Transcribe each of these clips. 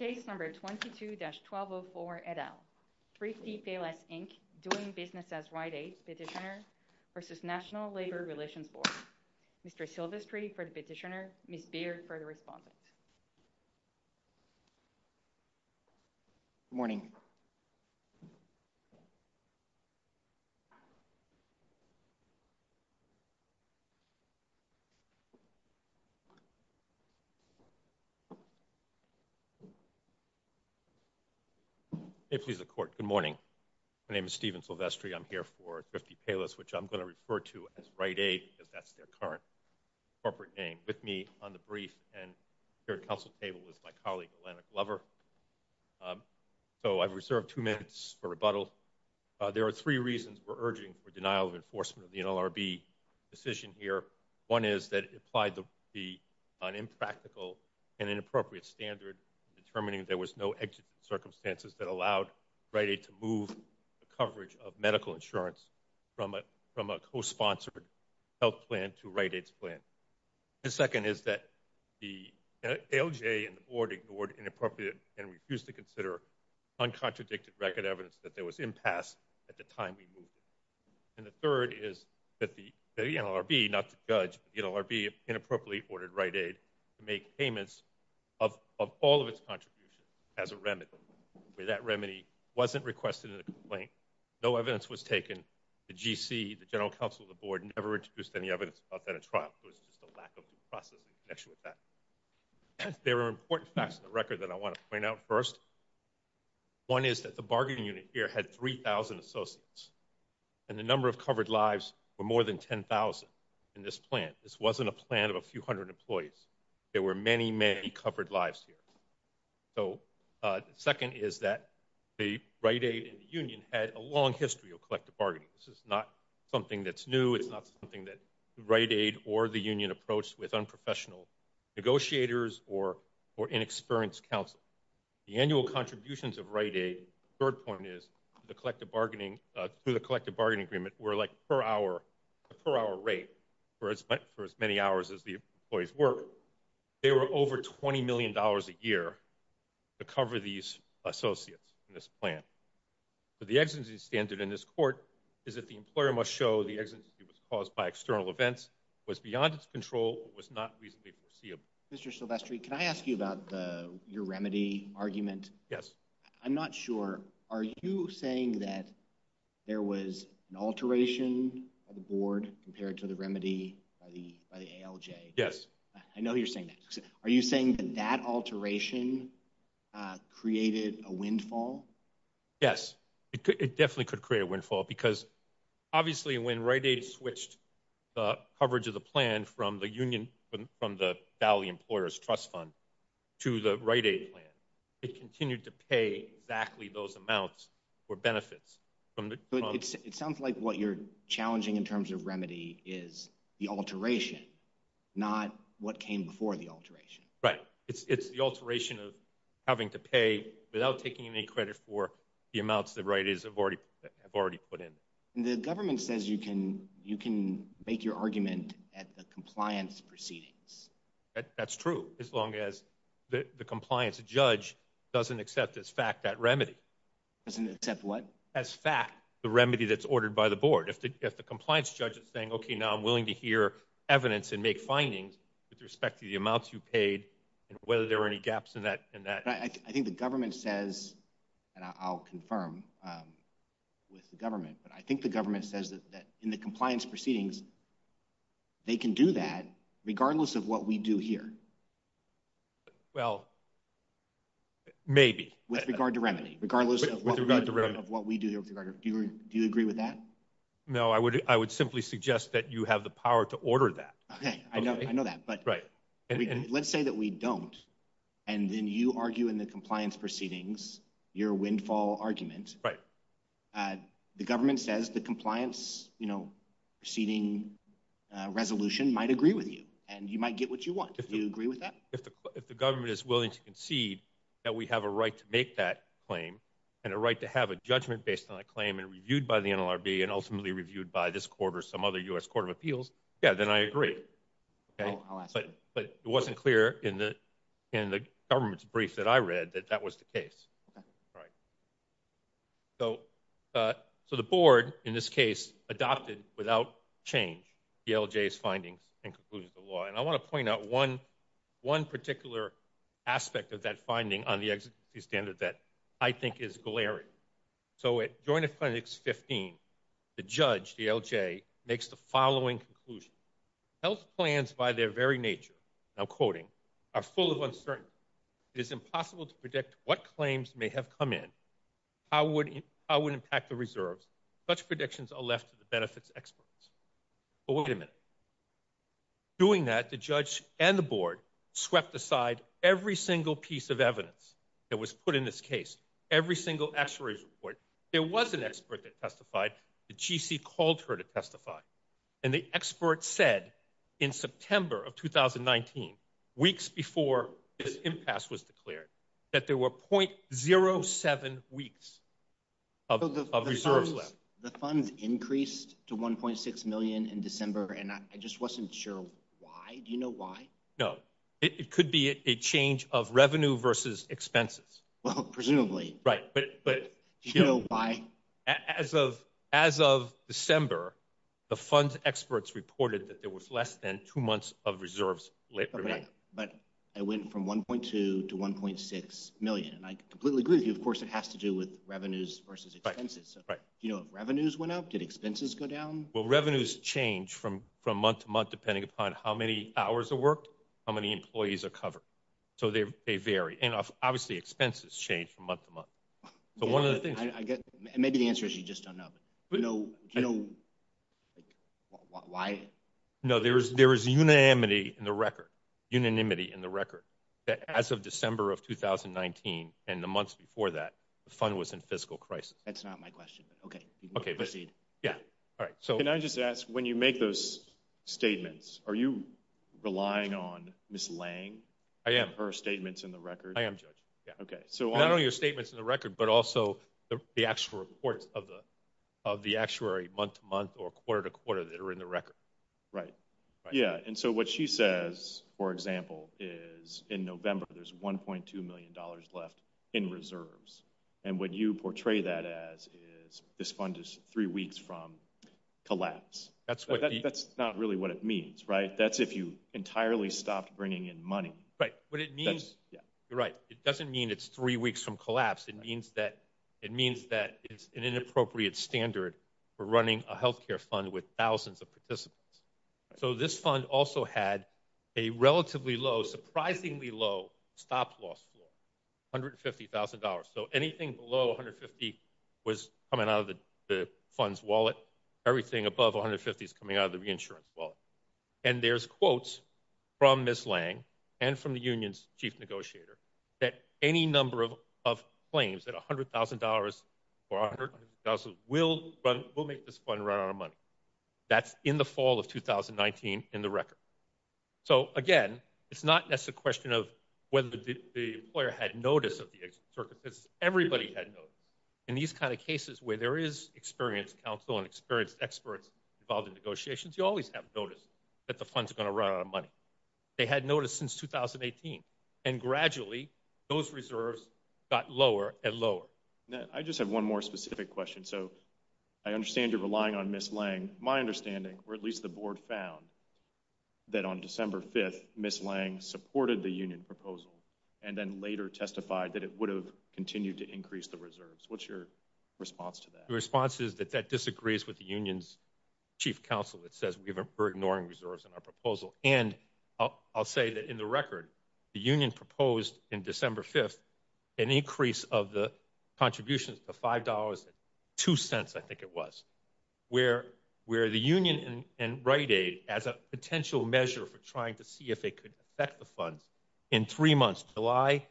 Case number 22-1204, et al. Thrifty Payless, Inc., Doing Business as Right Aid, Petitioner, v. National Labor Relations Board. Mr. Silvestri for the petitioner, Ms. Beard for the respondent. Good morning. My name is Steven Silvestri. I'm here for Thrifty Payless, which I'm going to refer to as Right Aid, because that's their current corporate name, with me on the brief and here at the Council table is my colleague, Elena Glover. So I've reserved two minutes for rebuttal. There are three reasons we're urging for denial of enforcement of the NLRB decision here. One is that it implied the impractical and inappropriate statements of the NLRB. The second is that the NLRB did not meet the standard in determining there was no exit circumstances that allowed Right Aid to move the coverage of medical insurance from a co-sponsored health plan to Right Aid's plan. The second is that the ALJ and the Board ignored inappropriate and refused to consider uncontradicted record evidence that there was impasse at the time we moved it. And the third is that the NLRB, not to judge, but the NLRB inappropriately ordered Right Aid to make payments of all of its contributions as a remedy. That remedy wasn't requested in the complaint. No evidence was taken. The GC, the General Counsel of the Board, never introduced any evidence about that at trial. There are important facts in the record that I want to point out first. One is that the bargaining unit here had 3,000 associates, and the number of covered lives were more than 10,000 in this plan. This wasn't a plan of a few hundred employees. There were many, many covered lives here. So the second is that the Right Aid and the union had a long history of collective bargaining. This is not something that's new. It's not something that Right Aid or the union approached with unprofessional negotiators or inexperienced counsel. The annual contributions of Right Aid, the third point is, through the collective bargaining agreement, were like a per-hour rate for as many hours as the employees worked, so they were over $20 million a year to cover these associates in this plan. But the exigency standard in this court is that the employer must show the exigency was caused by external events, was beyond its control, or was not reasonably foreseeable. Mr. Silvestri, can I ask you about your remedy argument? Yes. I'm not sure, are you saying that there was an alteration of the board compared to the remedy by the ALJ? Yes. I know you're saying that. Are you saying that that alteration created a windfall? Yes. It definitely could create a windfall, because obviously when Right Aid switched the coverage of the plan from the union, from the Valley Employers Trust Fund, to the Right Aid plan, it continued to pay exactly those amounts for benefits. It sounds like what you're challenging in terms of remedy is the alteration, not what came before the alteration. Right. It's the alteration of having to pay without taking any credit for the amounts that Right Aids have already put in. The government says you can make your argument at the compliance proceedings. That's true, as long as the compliance judge doesn't accept as fact that remedy. Doesn't accept what? As fact, the remedy that's ordered by the board. If the compliance judge is saying, okay, now I'm willing to hear evidence and make findings with respect to the amounts you paid and whether there are any gaps in that. I think the government says, and I'll confirm with the government, but I think the government says that in the compliance proceedings, they can do that regardless of what we do here. Well, maybe. With regard to remedy, regardless of what we do here. Do you agree with that? No, I would simply suggest that you have the power to order that. Okay, I know that, but let's say that we don't and then you argue in the compliance proceedings your windfall argument. The government says the compliance proceeding resolution might agree with you and you might get what you want. Do you agree with that? If the government is willing to concede that we have a right to make that claim and a right to have a judgment based on that claim and reviewed by the NLRB and ultimately reviewed by this court or some other U.S. Court of Appeals, then I agree. But it wasn't clear in the government's brief that I read that that was the case. So the board, in this case, adopted without change DLJ's findings and conclusions of the law. And I want to point out one particular aspect of that finding on the executive standard that I think is glaring. So at Joint Appendix 15, the judge, DLJ, makes the following conclusion. Health plans by their very nature, now quoting, are full of uncertainty. It is impossible to predict what claims may have come in, how it would impact the reserves. Such predictions are left to the benefits experts. But wait a minute. Doing that, the judge and the board swept aside every single piece of evidence that was put in this case. Every single actuary's report. There was an expert that testified. The GC called her to testify. And the expert said in September of 2019, weeks before this impasse was declared, that there were .07 weeks of reserves left. The funds increased to 1.6 million in December. And I just wasn't sure why. Do you know why? No. It could be a change of revenue versus expenses. Well, presumably. Right. But do you know why? As of December, the funds experts reported that there was less than two months of reserves remaining. But it went from 1.2 to 1.6 million. And I completely agree with you. Of course, it has to do with revenues versus expenses. Do you know if revenues went up? Did expenses go down? Well, revenues change from month to month, depending upon how many hours of work, how many employees are covered. So they vary. And obviously, expenses change from month to month. So one of the things... Maybe the answer is you just don't know. But do you know why? No. There is unanimity in the record. Unanimity in the record. As of December of 2019 and the months before that, the fund was in fiscal crisis. That's not my question. Okay. Proceed. Can I just ask, when you make those statements, are you relying on Ms. Lange and her statements in the record? I am, Judge. Not only her statements in the record, but also the actual reports of the actuary month to month or quarter to quarter that are in the record. Right. Yeah. And so what she says, for example, is in November, there's $1.2 million left in reserves. And what you portray that as is this fund is three weeks from collapse. That's not really what it means, right? That's if you entirely stopped bringing in money. Right. What it means... You're right. It doesn't mean it's three weeks from collapse. It means that it's an inappropriate standard for running a health care fund with thousands of participants. So this fund also had a relatively low, surprisingly low stop loss for $150,000. So anything below $150,000 was coming out of the fund's wallet. Everything above $150,000 is coming out of the reinsurance wallet. And there's quotes from Ms. Lange and from the union's chief negotiator that any number of claims that $100,000 or $150,000 will make this fund run out of money. That's in the fall of 2019 in the record. So again, it's not just a question of whether the employer had notice of the circumstances. Everybody had notice. In these kind of cases where there is experienced counsel and experienced experts involved in negotiations, you always have notice that the fund's going to run out of money. They had notice since 2018. And gradually, those numbers have gone up. I just have one more specific question. So I understand you're relying on Ms. Lange. My understanding, or at least the board found, that on December 5th, Ms. Lange supported the union proposal and then later testified that it would have continued to increase the reserves. What's your response to that? The response is that that disagrees with the union's chief counsel. It says we're ignoring reserves in our proposal. And I'll say that in the record, the union proposed in December 5th an increase of the contributions to $5.02, I think it was, where the union and Rite Aid, as a potential measure for trying to see if it could affect the fund, in three months, July,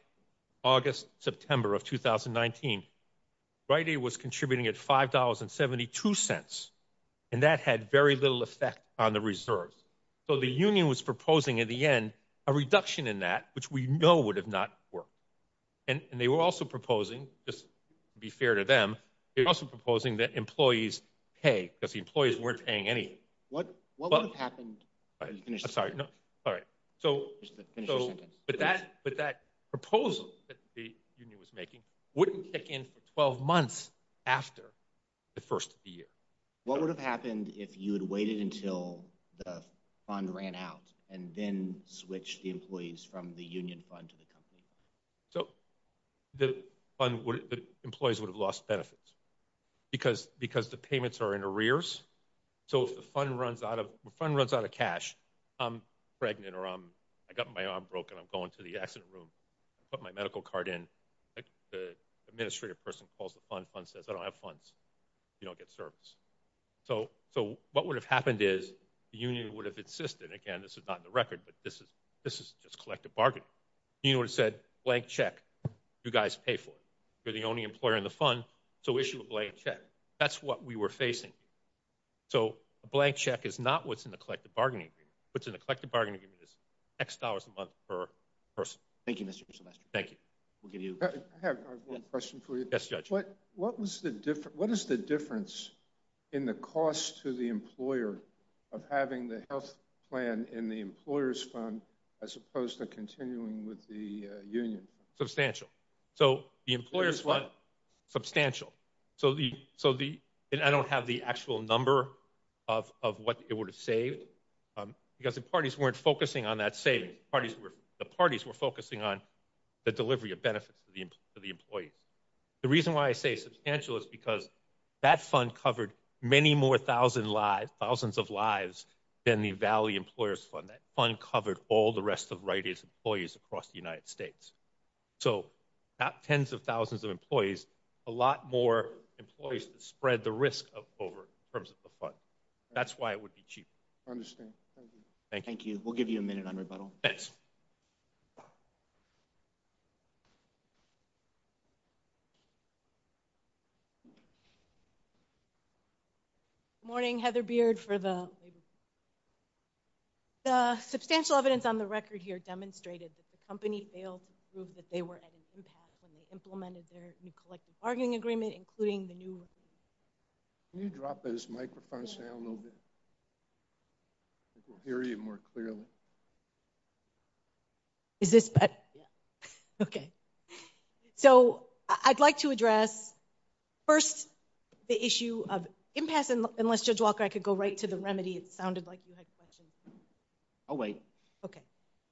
August, September of 2019, Rite Aid was contributing at $5.72. And that had very little effect on the reserves. So the union was proposing in the end a reduction in that, which we know would have not worked. And they were also proposing, just to be fair to them, they were also proposing that employees pay, because the employees weren't paying anything. What would have happened if you finished the sentence? I'm sorry, no, sorry. But that proposal that the union was making wouldn't kick in for 12 months after the $5.02 increase. So what would have happened if you waited until the fund ran out and then switched the employees from the union fund to the company fund? So the employees would have lost benefits. Because the payments are in arrears. So if the fund runs out of cash, I'm pregnant or I've got my arm broken, I'm going to the accident room, I put my medical card in, the administrative person calls the fund, the fund says I don't have funds, you don't get service. So what would have happened is the union would have insisted, again, this is not in the record, but this is just collective bargaining. The union would have said, blank check, you guys pay for it. You're the only employer in the fund, so issue a blank check. That's what we were facing. So a blank check is not what's in the collective bargaining agreement. What's in the collective bargaining agreement is X dollars a month per person. Thank you, Mr. What is the difference in the cost to the employer of having the health plan in the employer's fund as opposed to continuing with the union? Substantial. So the employer's fund, substantial. So I don't have the actual number of what it would have saved because the parties weren't focusing on that savings. The parties were focusing on the The reason why I say substantial is because that fund covered many more thousands of lives than the Valley Employers Fund. That fund covered all the rest of Rite Aid's employees across the United States. So not tens of thousands of employees, a lot more employees that spread the risk over in terms of the fund. That's why it would be cheaper. I understand. Thank you. Thank you. We'll give you a minute on rebuttal. Thanks. Morning, Heather Beard for the The substantial evidence on the record here demonstrated that the company failed to prove that they were at an impact when they implemented their new collective bargaining agreement, including the new Can you drop those microphones down a little bit? We'll hear you more clearly. Is this better? Yeah. Okay. So I'd like to address first the issue of impasse. Unless Judge Walker, I could go right to the remedy. It sounded like you had questions. I'll wait. Okay.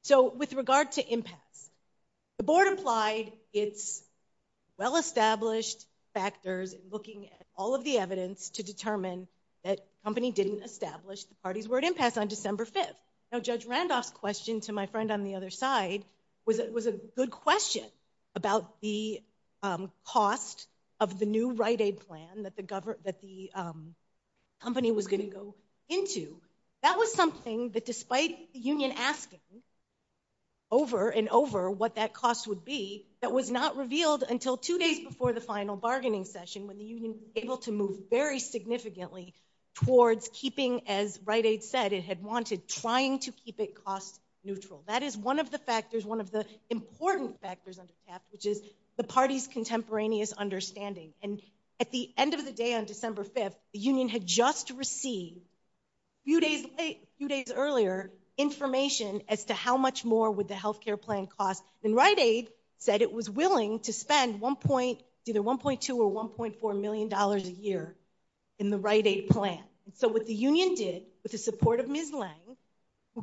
So with regard to impasse, the board implied it's well-established factors looking at all of the evidence to determine that company didn't establish the party's word impasse on December 5th. Now, Judge Randolph's question to my friend on the other side was a good question about the cost of the new right aid plan that the company was going to go into. That was something that despite the union asking over and over what that cost would be, that was not revealed until two days before the final bargaining session when the union able to move very significantly towards keeping, as right aid said, it had wanted trying to keep it cost neutral. That is one of the factors, one of the important factors under TAP, which is the party's contemporaneous understanding. And at the end of the day on December 5th, the union had just received a few days earlier information as to how much more would the health care plan cost. And right aid said it was willing to spend either 1.2 or 1.4 million dollars a year in the right aid plan. So what the union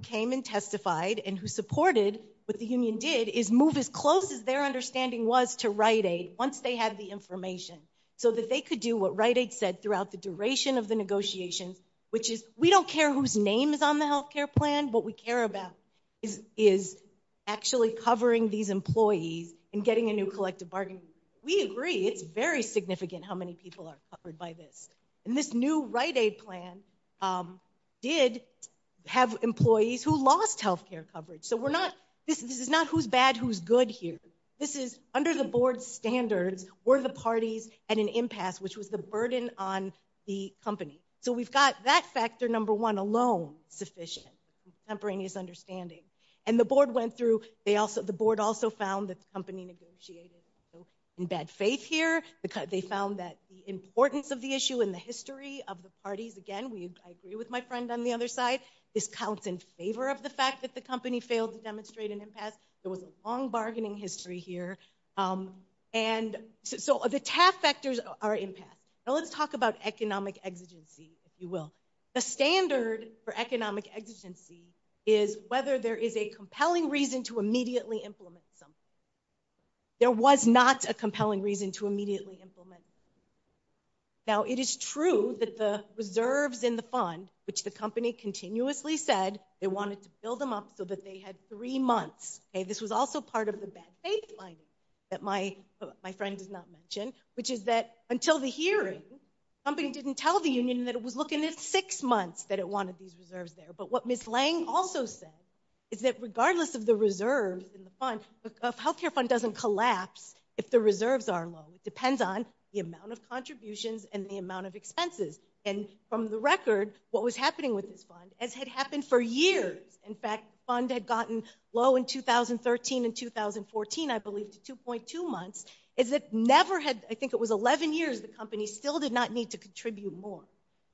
came and testified and who supported what the union did is move as close as their understanding was to right aid once they had the information so that they could do what right aid said throughout the duration of the negotiations, which is we don't care whose name is on the health care plan, what we care about is actually covering these employees and getting a new collective bargaining. We agree it's very significant how many people are covered by this. And this new right aid plan did have employees who lost health care coverage. So we're not, this is not who's bad, who's good here. This is under the board standards were the parties at an impasse, which was the burden on the company. So we've got that factor number one alone sufficient, contemporaneous understanding. And the board went through, the board also found that the company negotiated in bad faith here. They found that the importance of the issue and the I agree with my friend on the other side, this counts in favor of the fact that the company failed to demonstrate an impasse. There was a long bargaining history here. And so the TAF factors are impasse. Now let's talk about economic exigency, if you will. The standard for economic exigency is whether there is a compelling reason to immediately implement something. There was not a compelling reason to immediately implement. Now it is true that the reserves in the fund, which the company continuously said they wanted to build them up so that they had three months. This was also part of the bad faith finding that my friend did not mention, which is that until the hearing, the company didn't tell the union that it was looking at six months that it wanted these reserves there. But what Ms. Lange also said is that regardless of the reserves in the fund, a health care fund doesn't collapse if the reserves are low. It depends on the amount of contributions and the amount of expenses. And from the record, what was happening with this fund as had happened for years, in fact, the fund had gotten low in 2013 and 2014, I believe, to 2.2 months, is that never had, I think it was 11 years, the company still did not need to contribute more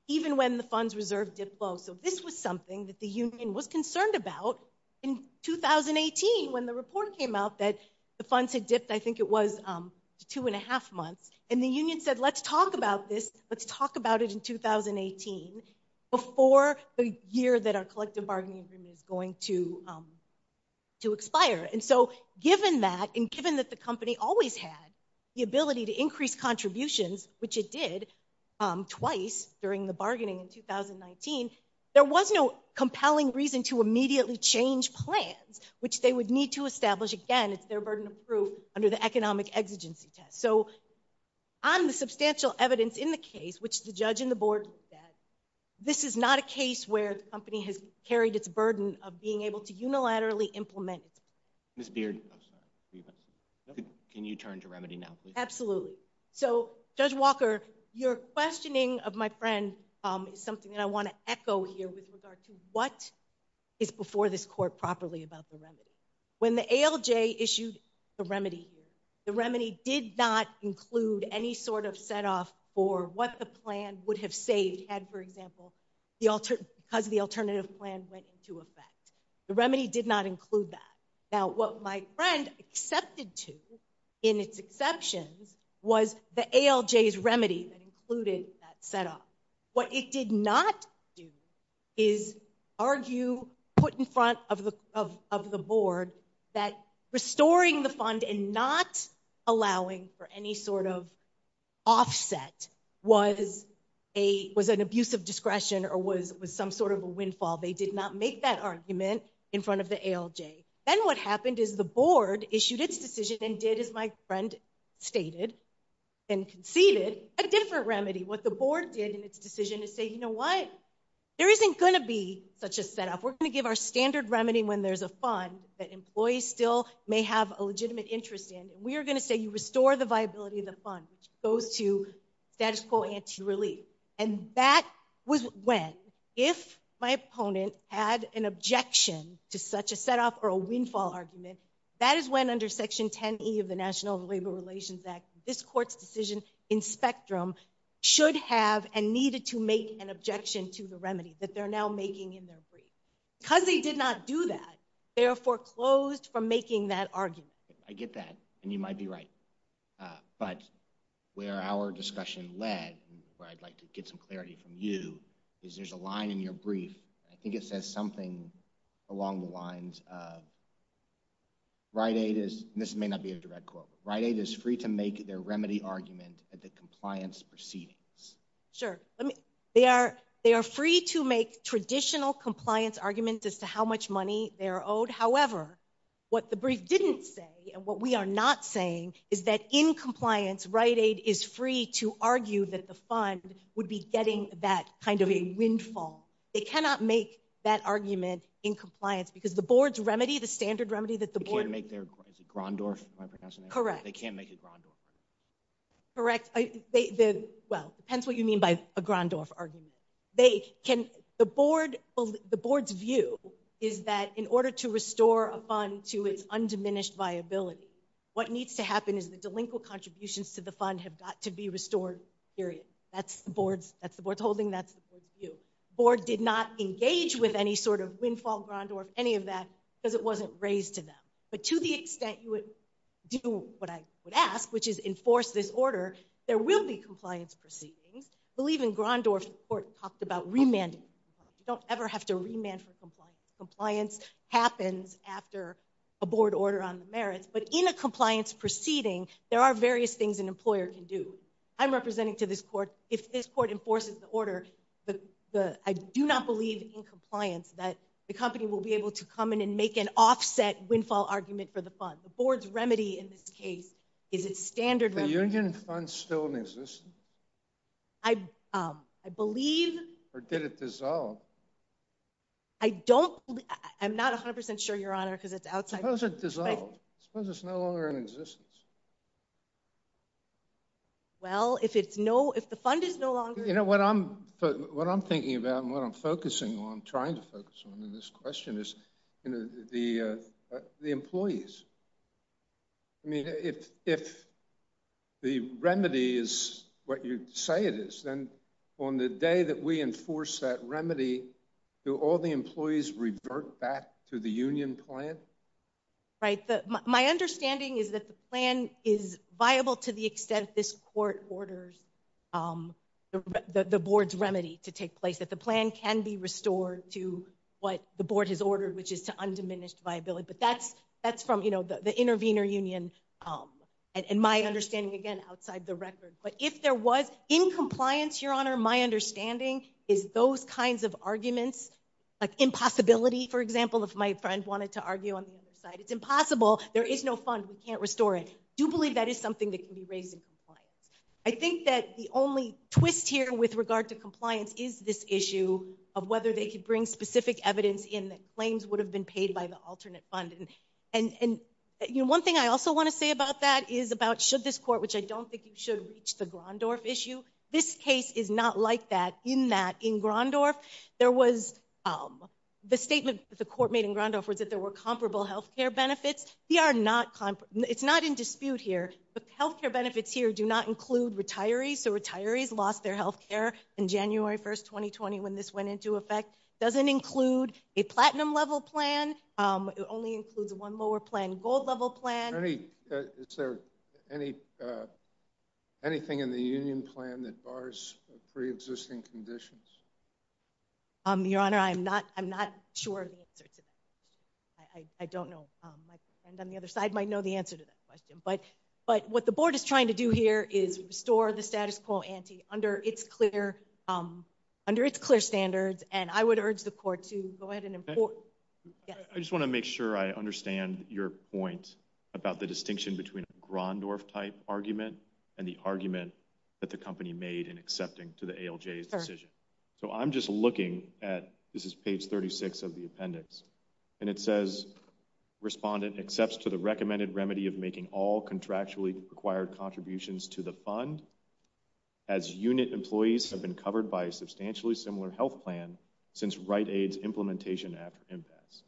even when the funds reserve dipped low. So this was something that the union was concerned about in 2018 when the report came out that the funds had dipped, I think it was, to 2.5 months. And the union said, let's talk about this, let's talk about it in 2018 before the year that our collective bargaining agreement is going to expire. And so given that, and given that the company always had the ability to increase contributions, which it did twice during the bargaining in 2019, there was no compelling reason to immediately change plans, which they would need to establish, again, it's their burden of proof under the economic exigency test. So on the substantial evidence in the case, which the judge and the board said, this is not a case where the company has carried its burden of being able to unilaterally implement. Ms. Beard. Can you turn to remedy now? Absolutely. So Judge Walker, your questioning of my friend is something that I want to echo here with regard to what is before this court properly about the remedy. When the ALJ issued the remedy here, the remedy did not include any sort of set off for what the plan would have saved had, for example, because the alternative plan went into effect. The remedy did not include that. Now, what my friend accepted to in its exceptions was the ALJ's remedy that included that set off. What it did not do is argue, put in front of the board, that restoring the fund and not allowing for any sort of offset was an abuse of discretion or was some sort of a windfall. They did not make that argument in front of the ALJ. Then what happened is the board issued its decision and did, as my friend stated and conceded, a different remedy. What the board did in its decision is say, you know what? There isn't going to be such a set off. We're going to give our standard remedy when there's a fund that employees still may have a legitimate interest in and we are going to say you restore the viability of the fund, which goes to status quo anti-relief. And that was when, if my opponent had an objection to such a set off or a windfall argument, that is when under Section 10E of the National Labor Relations Act, this court's decision in spectrum should have and needed to make an objection to the remedy that they're now making in their brief. Because they did not do that, they are foreclosed from making that argument. I get that. And you might be right. But where our discussion led, where I'd like to get some clarity from you, is there's a line in your brief, I think it says something along the lines of Rite Aid is, this may not be a direct quote, Rite Aid is free to make their remedy argument at the compliance proceedings. Sure. They are free to make traditional compliance arguments as to how much money they're owed. However, what the brief didn't say and what we are not saying is that in compliance, Rite Aid is free to argue that the fund would be getting that kind of a windfall. They cannot make that argument in compliance because the board's remedy, the standard remedy that the board They can't make a Grondorf argument? Correct. Depends what you mean by a Grondorf argument. The board's view is that in order to restore a fund to its undiminished viability, what needs to happen is the delinquent contributions to the fund have got to be restored, period. That's the board's holding, that's the board's view. The board did not engage with any sort of windfall, Grondorf, any of that because it wasn't raised to them. But to the extent you would do what I would ask which is enforce this order, there will be compliance proceedings. I believe in Grondorf the court talked about remanding. You don't ever have to remand for compliance. Compliance happens after a board order on the merits, but in a compliance proceeding there are various things an employer can do. I'm representing to this court, if this court enforces the order I do not believe in compliance that the company will be able to come in and make an offset windfall argument for the fund. The board's remedy in this case is its standard remedy. Is the union fund still in existence? I believe Or did it dissolve? I'm not 100% sure, Your Honor, because it's outside Suppose it dissolved. Suppose it's no longer in existence. Well, if the fund is no longer What I'm thinking about and what I'm focusing on trying to focus on in this question is the employees. I mean, if the remedy is what you say it is, then on the day that we enforce that remedy, do all the employees revert back to the union plan? Right. My understanding is that the plan is viable to the extent this court orders the board's remedy to take place, that the plan can be restored to what the board has ordered, which is to undiminished viability. But that's from the intervener union and my understanding, again, outside the record. But if there was, in compliance, Your Honor, my understanding is those kinds of arguments like impossibility, for example, if my friend wanted to argue on the other side, it's impossible. There is no fund. We can't restore it. Do believe that is something that can be raised in compliance. I think that the only twist here with regard to compliance is this issue of whether they could bring specific evidence in that claims would have been paid by the alternate fund. And one thing I also want to say about that is about should this court, which I don't think it should reach the Grondorf issue, this case is not like that in that in Grondorf there was the statement that the court made in Grondorf was that there were comparable health care benefits. It's not in dispute here, but health care benefits here do not include retirees. So retirees lost their health care in January 1st, 2020 when this went into effect. It doesn't include a platinum level plan. It only includes one lower plan, gold level plan. Is there anything in the union plan that bars pre-existing conditions? Your Honor, I'm not sure of the answer to that question. I don't know. My friend on the other side might know the answer to that question. But what the board is trying to do here is restore the status quo ante under its clear under its clear standards. And I would urge the court to go ahead and import. I just want to make sure I understand your point about the distinction between a Grondorf type argument and the argument that the company made in accepting to the ALJ's decision. So I'm just looking at this is page 36 of the appendix and it says respondent accepts to the recommended remedy of making all contractually required contributions to the fund as unit employees have been covered by a substantially similar health plan since Rite Aid's implementation after impasse.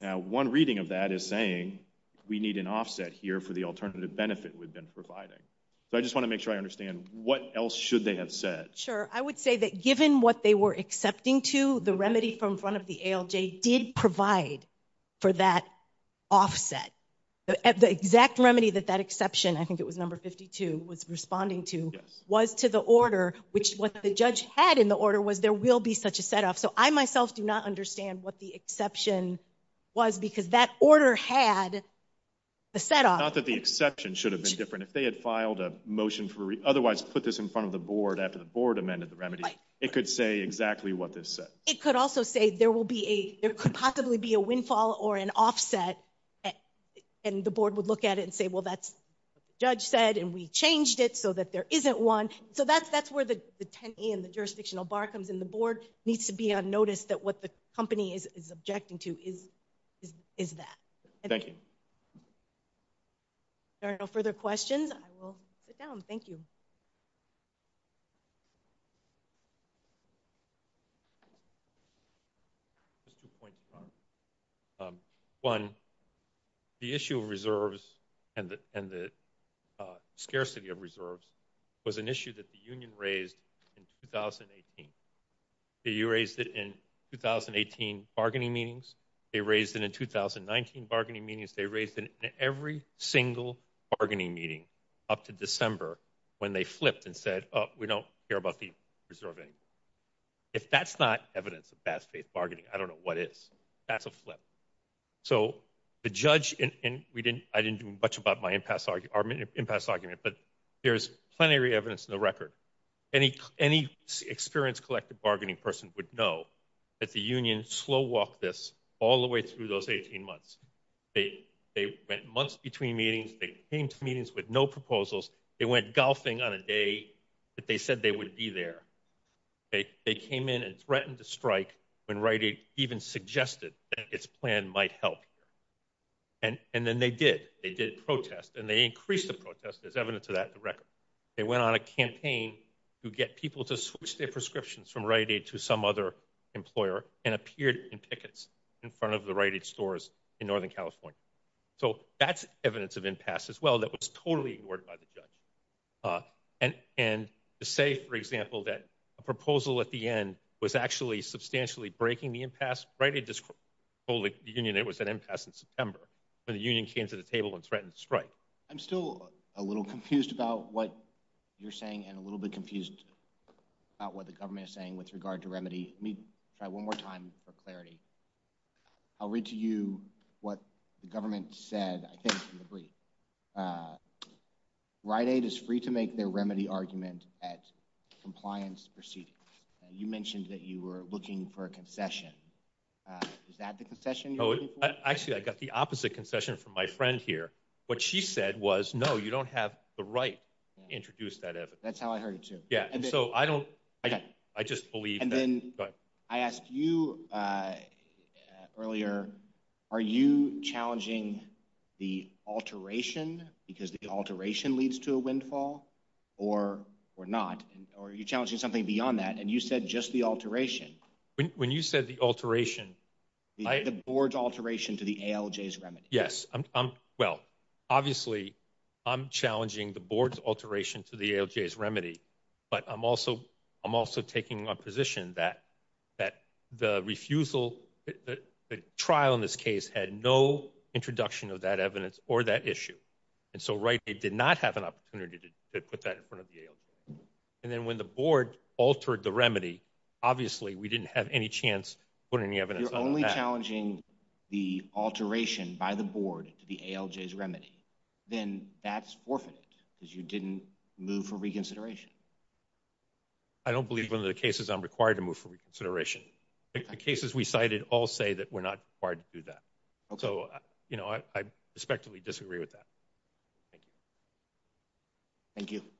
Now one reading of that is saying we need an offset here for the alternative benefit we've been providing. So I just want to make sure I understand what else should they have said? Sure. I would say that given what they were accepting to, the remedy from front of the ALJ did provide for that offset. The exact remedy that that exception I think it was number 52 was responding to was to the order which what the judge had in the order was there will be such a set off. So I myself do not understand what the exception was because that order had a set off. Not that the exception should have been different. If they had filed a motion for otherwise put this in front of the board after the board amended the remedy, it could say exactly what this said. It could also say there will be a, there could possibly be a windfall or an offset and the board would look at it and say well that's what the judge said and we changed it so that there isn't one. So that's where the 10E and the jurisdictional bar comes in. The board needs to be on notice that what the company is objecting to is that. Thank you. If there are no further questions, I will sit down. Thank you. One, the issue of reserves and the scarcity of reserves was an issue that the union raised in 2018. You raised it in 2018 bargaining meetings. They raised it in 2019 bargaining meetings. They raised it in every single bargaining meeting up to December when they flipped and said we don't care about the reserve anymore. If that's not evidence of bad faith bargaining, I don't know what is. That's a flip. So the judge, and I didn't do much about my impasse argument, but there's plenty of evidence in the record. Any experienced collective bargaining person would know that the union slow walked this all the way through those 18 months. They went months between meetings. They came to meetings with no proposals. They went golfing on a day that they said they would be there. They came in and threatened to strike when Rite Aid even suggested that its plan might help. And then they did. They did protest and they increased the protest. There's evidence of that in the record. They went on a campaign to get people to switch their prescriptions from Rite Aid to some other employer and appeared in tickets in front of the Rite Aid stores in Northern California. So that's evidence of impasse as well that was totally ignored by the judge. And to say, for example, that a proposal at the end was actually substantially breaking the impasse, Rite Aid just told the union it was an impasse in September when the union came to the table and threatened to strike. I'm still a little confused about what you're saying and a little bit confused about what the government is saying with regard to remedy. Let me try one more time for clarity. I'll read to you what the government said, I think, in the brief. Rite Aid is free to make their remedy argument at compliance proceedings. You mentioned that you were looking for a concession. Is that the concession you're looking for? Actually, I got the opposite concession from my friend here. What she said was, no, you don't have the right to introduce that evidence. That's how I heard it, too. And then I asked you earlier, are you challenging the alteration because the alteration leads to a windfall or not? Or are you challenging something beyond that? And you said just the alteration. When you said the alteration, the board's alteration to the ALJ's remedy. Yes. Well, obviously, I'm challenging the board's alteration to the ALJ's remedy, but I'm also taking a position that the refusal, the trial in this case had no introduction of that evidence or that issue. And so Rite Aid did not have an opportunity to put that in front of the ALJ. And then when the board altered the remedy, obviously, we didn't have any chance to put any evidence on that. You're only challenging the alteration by the board to the ALJ's remedy. Then that's forfeited because you didn't move for reconsideration. I don't believe one of the cases I'm required to move for reconsideration. The cases we cited all say that we're not required to do that. So, you know, I respectfully disagree with that. Thank you. Thank you.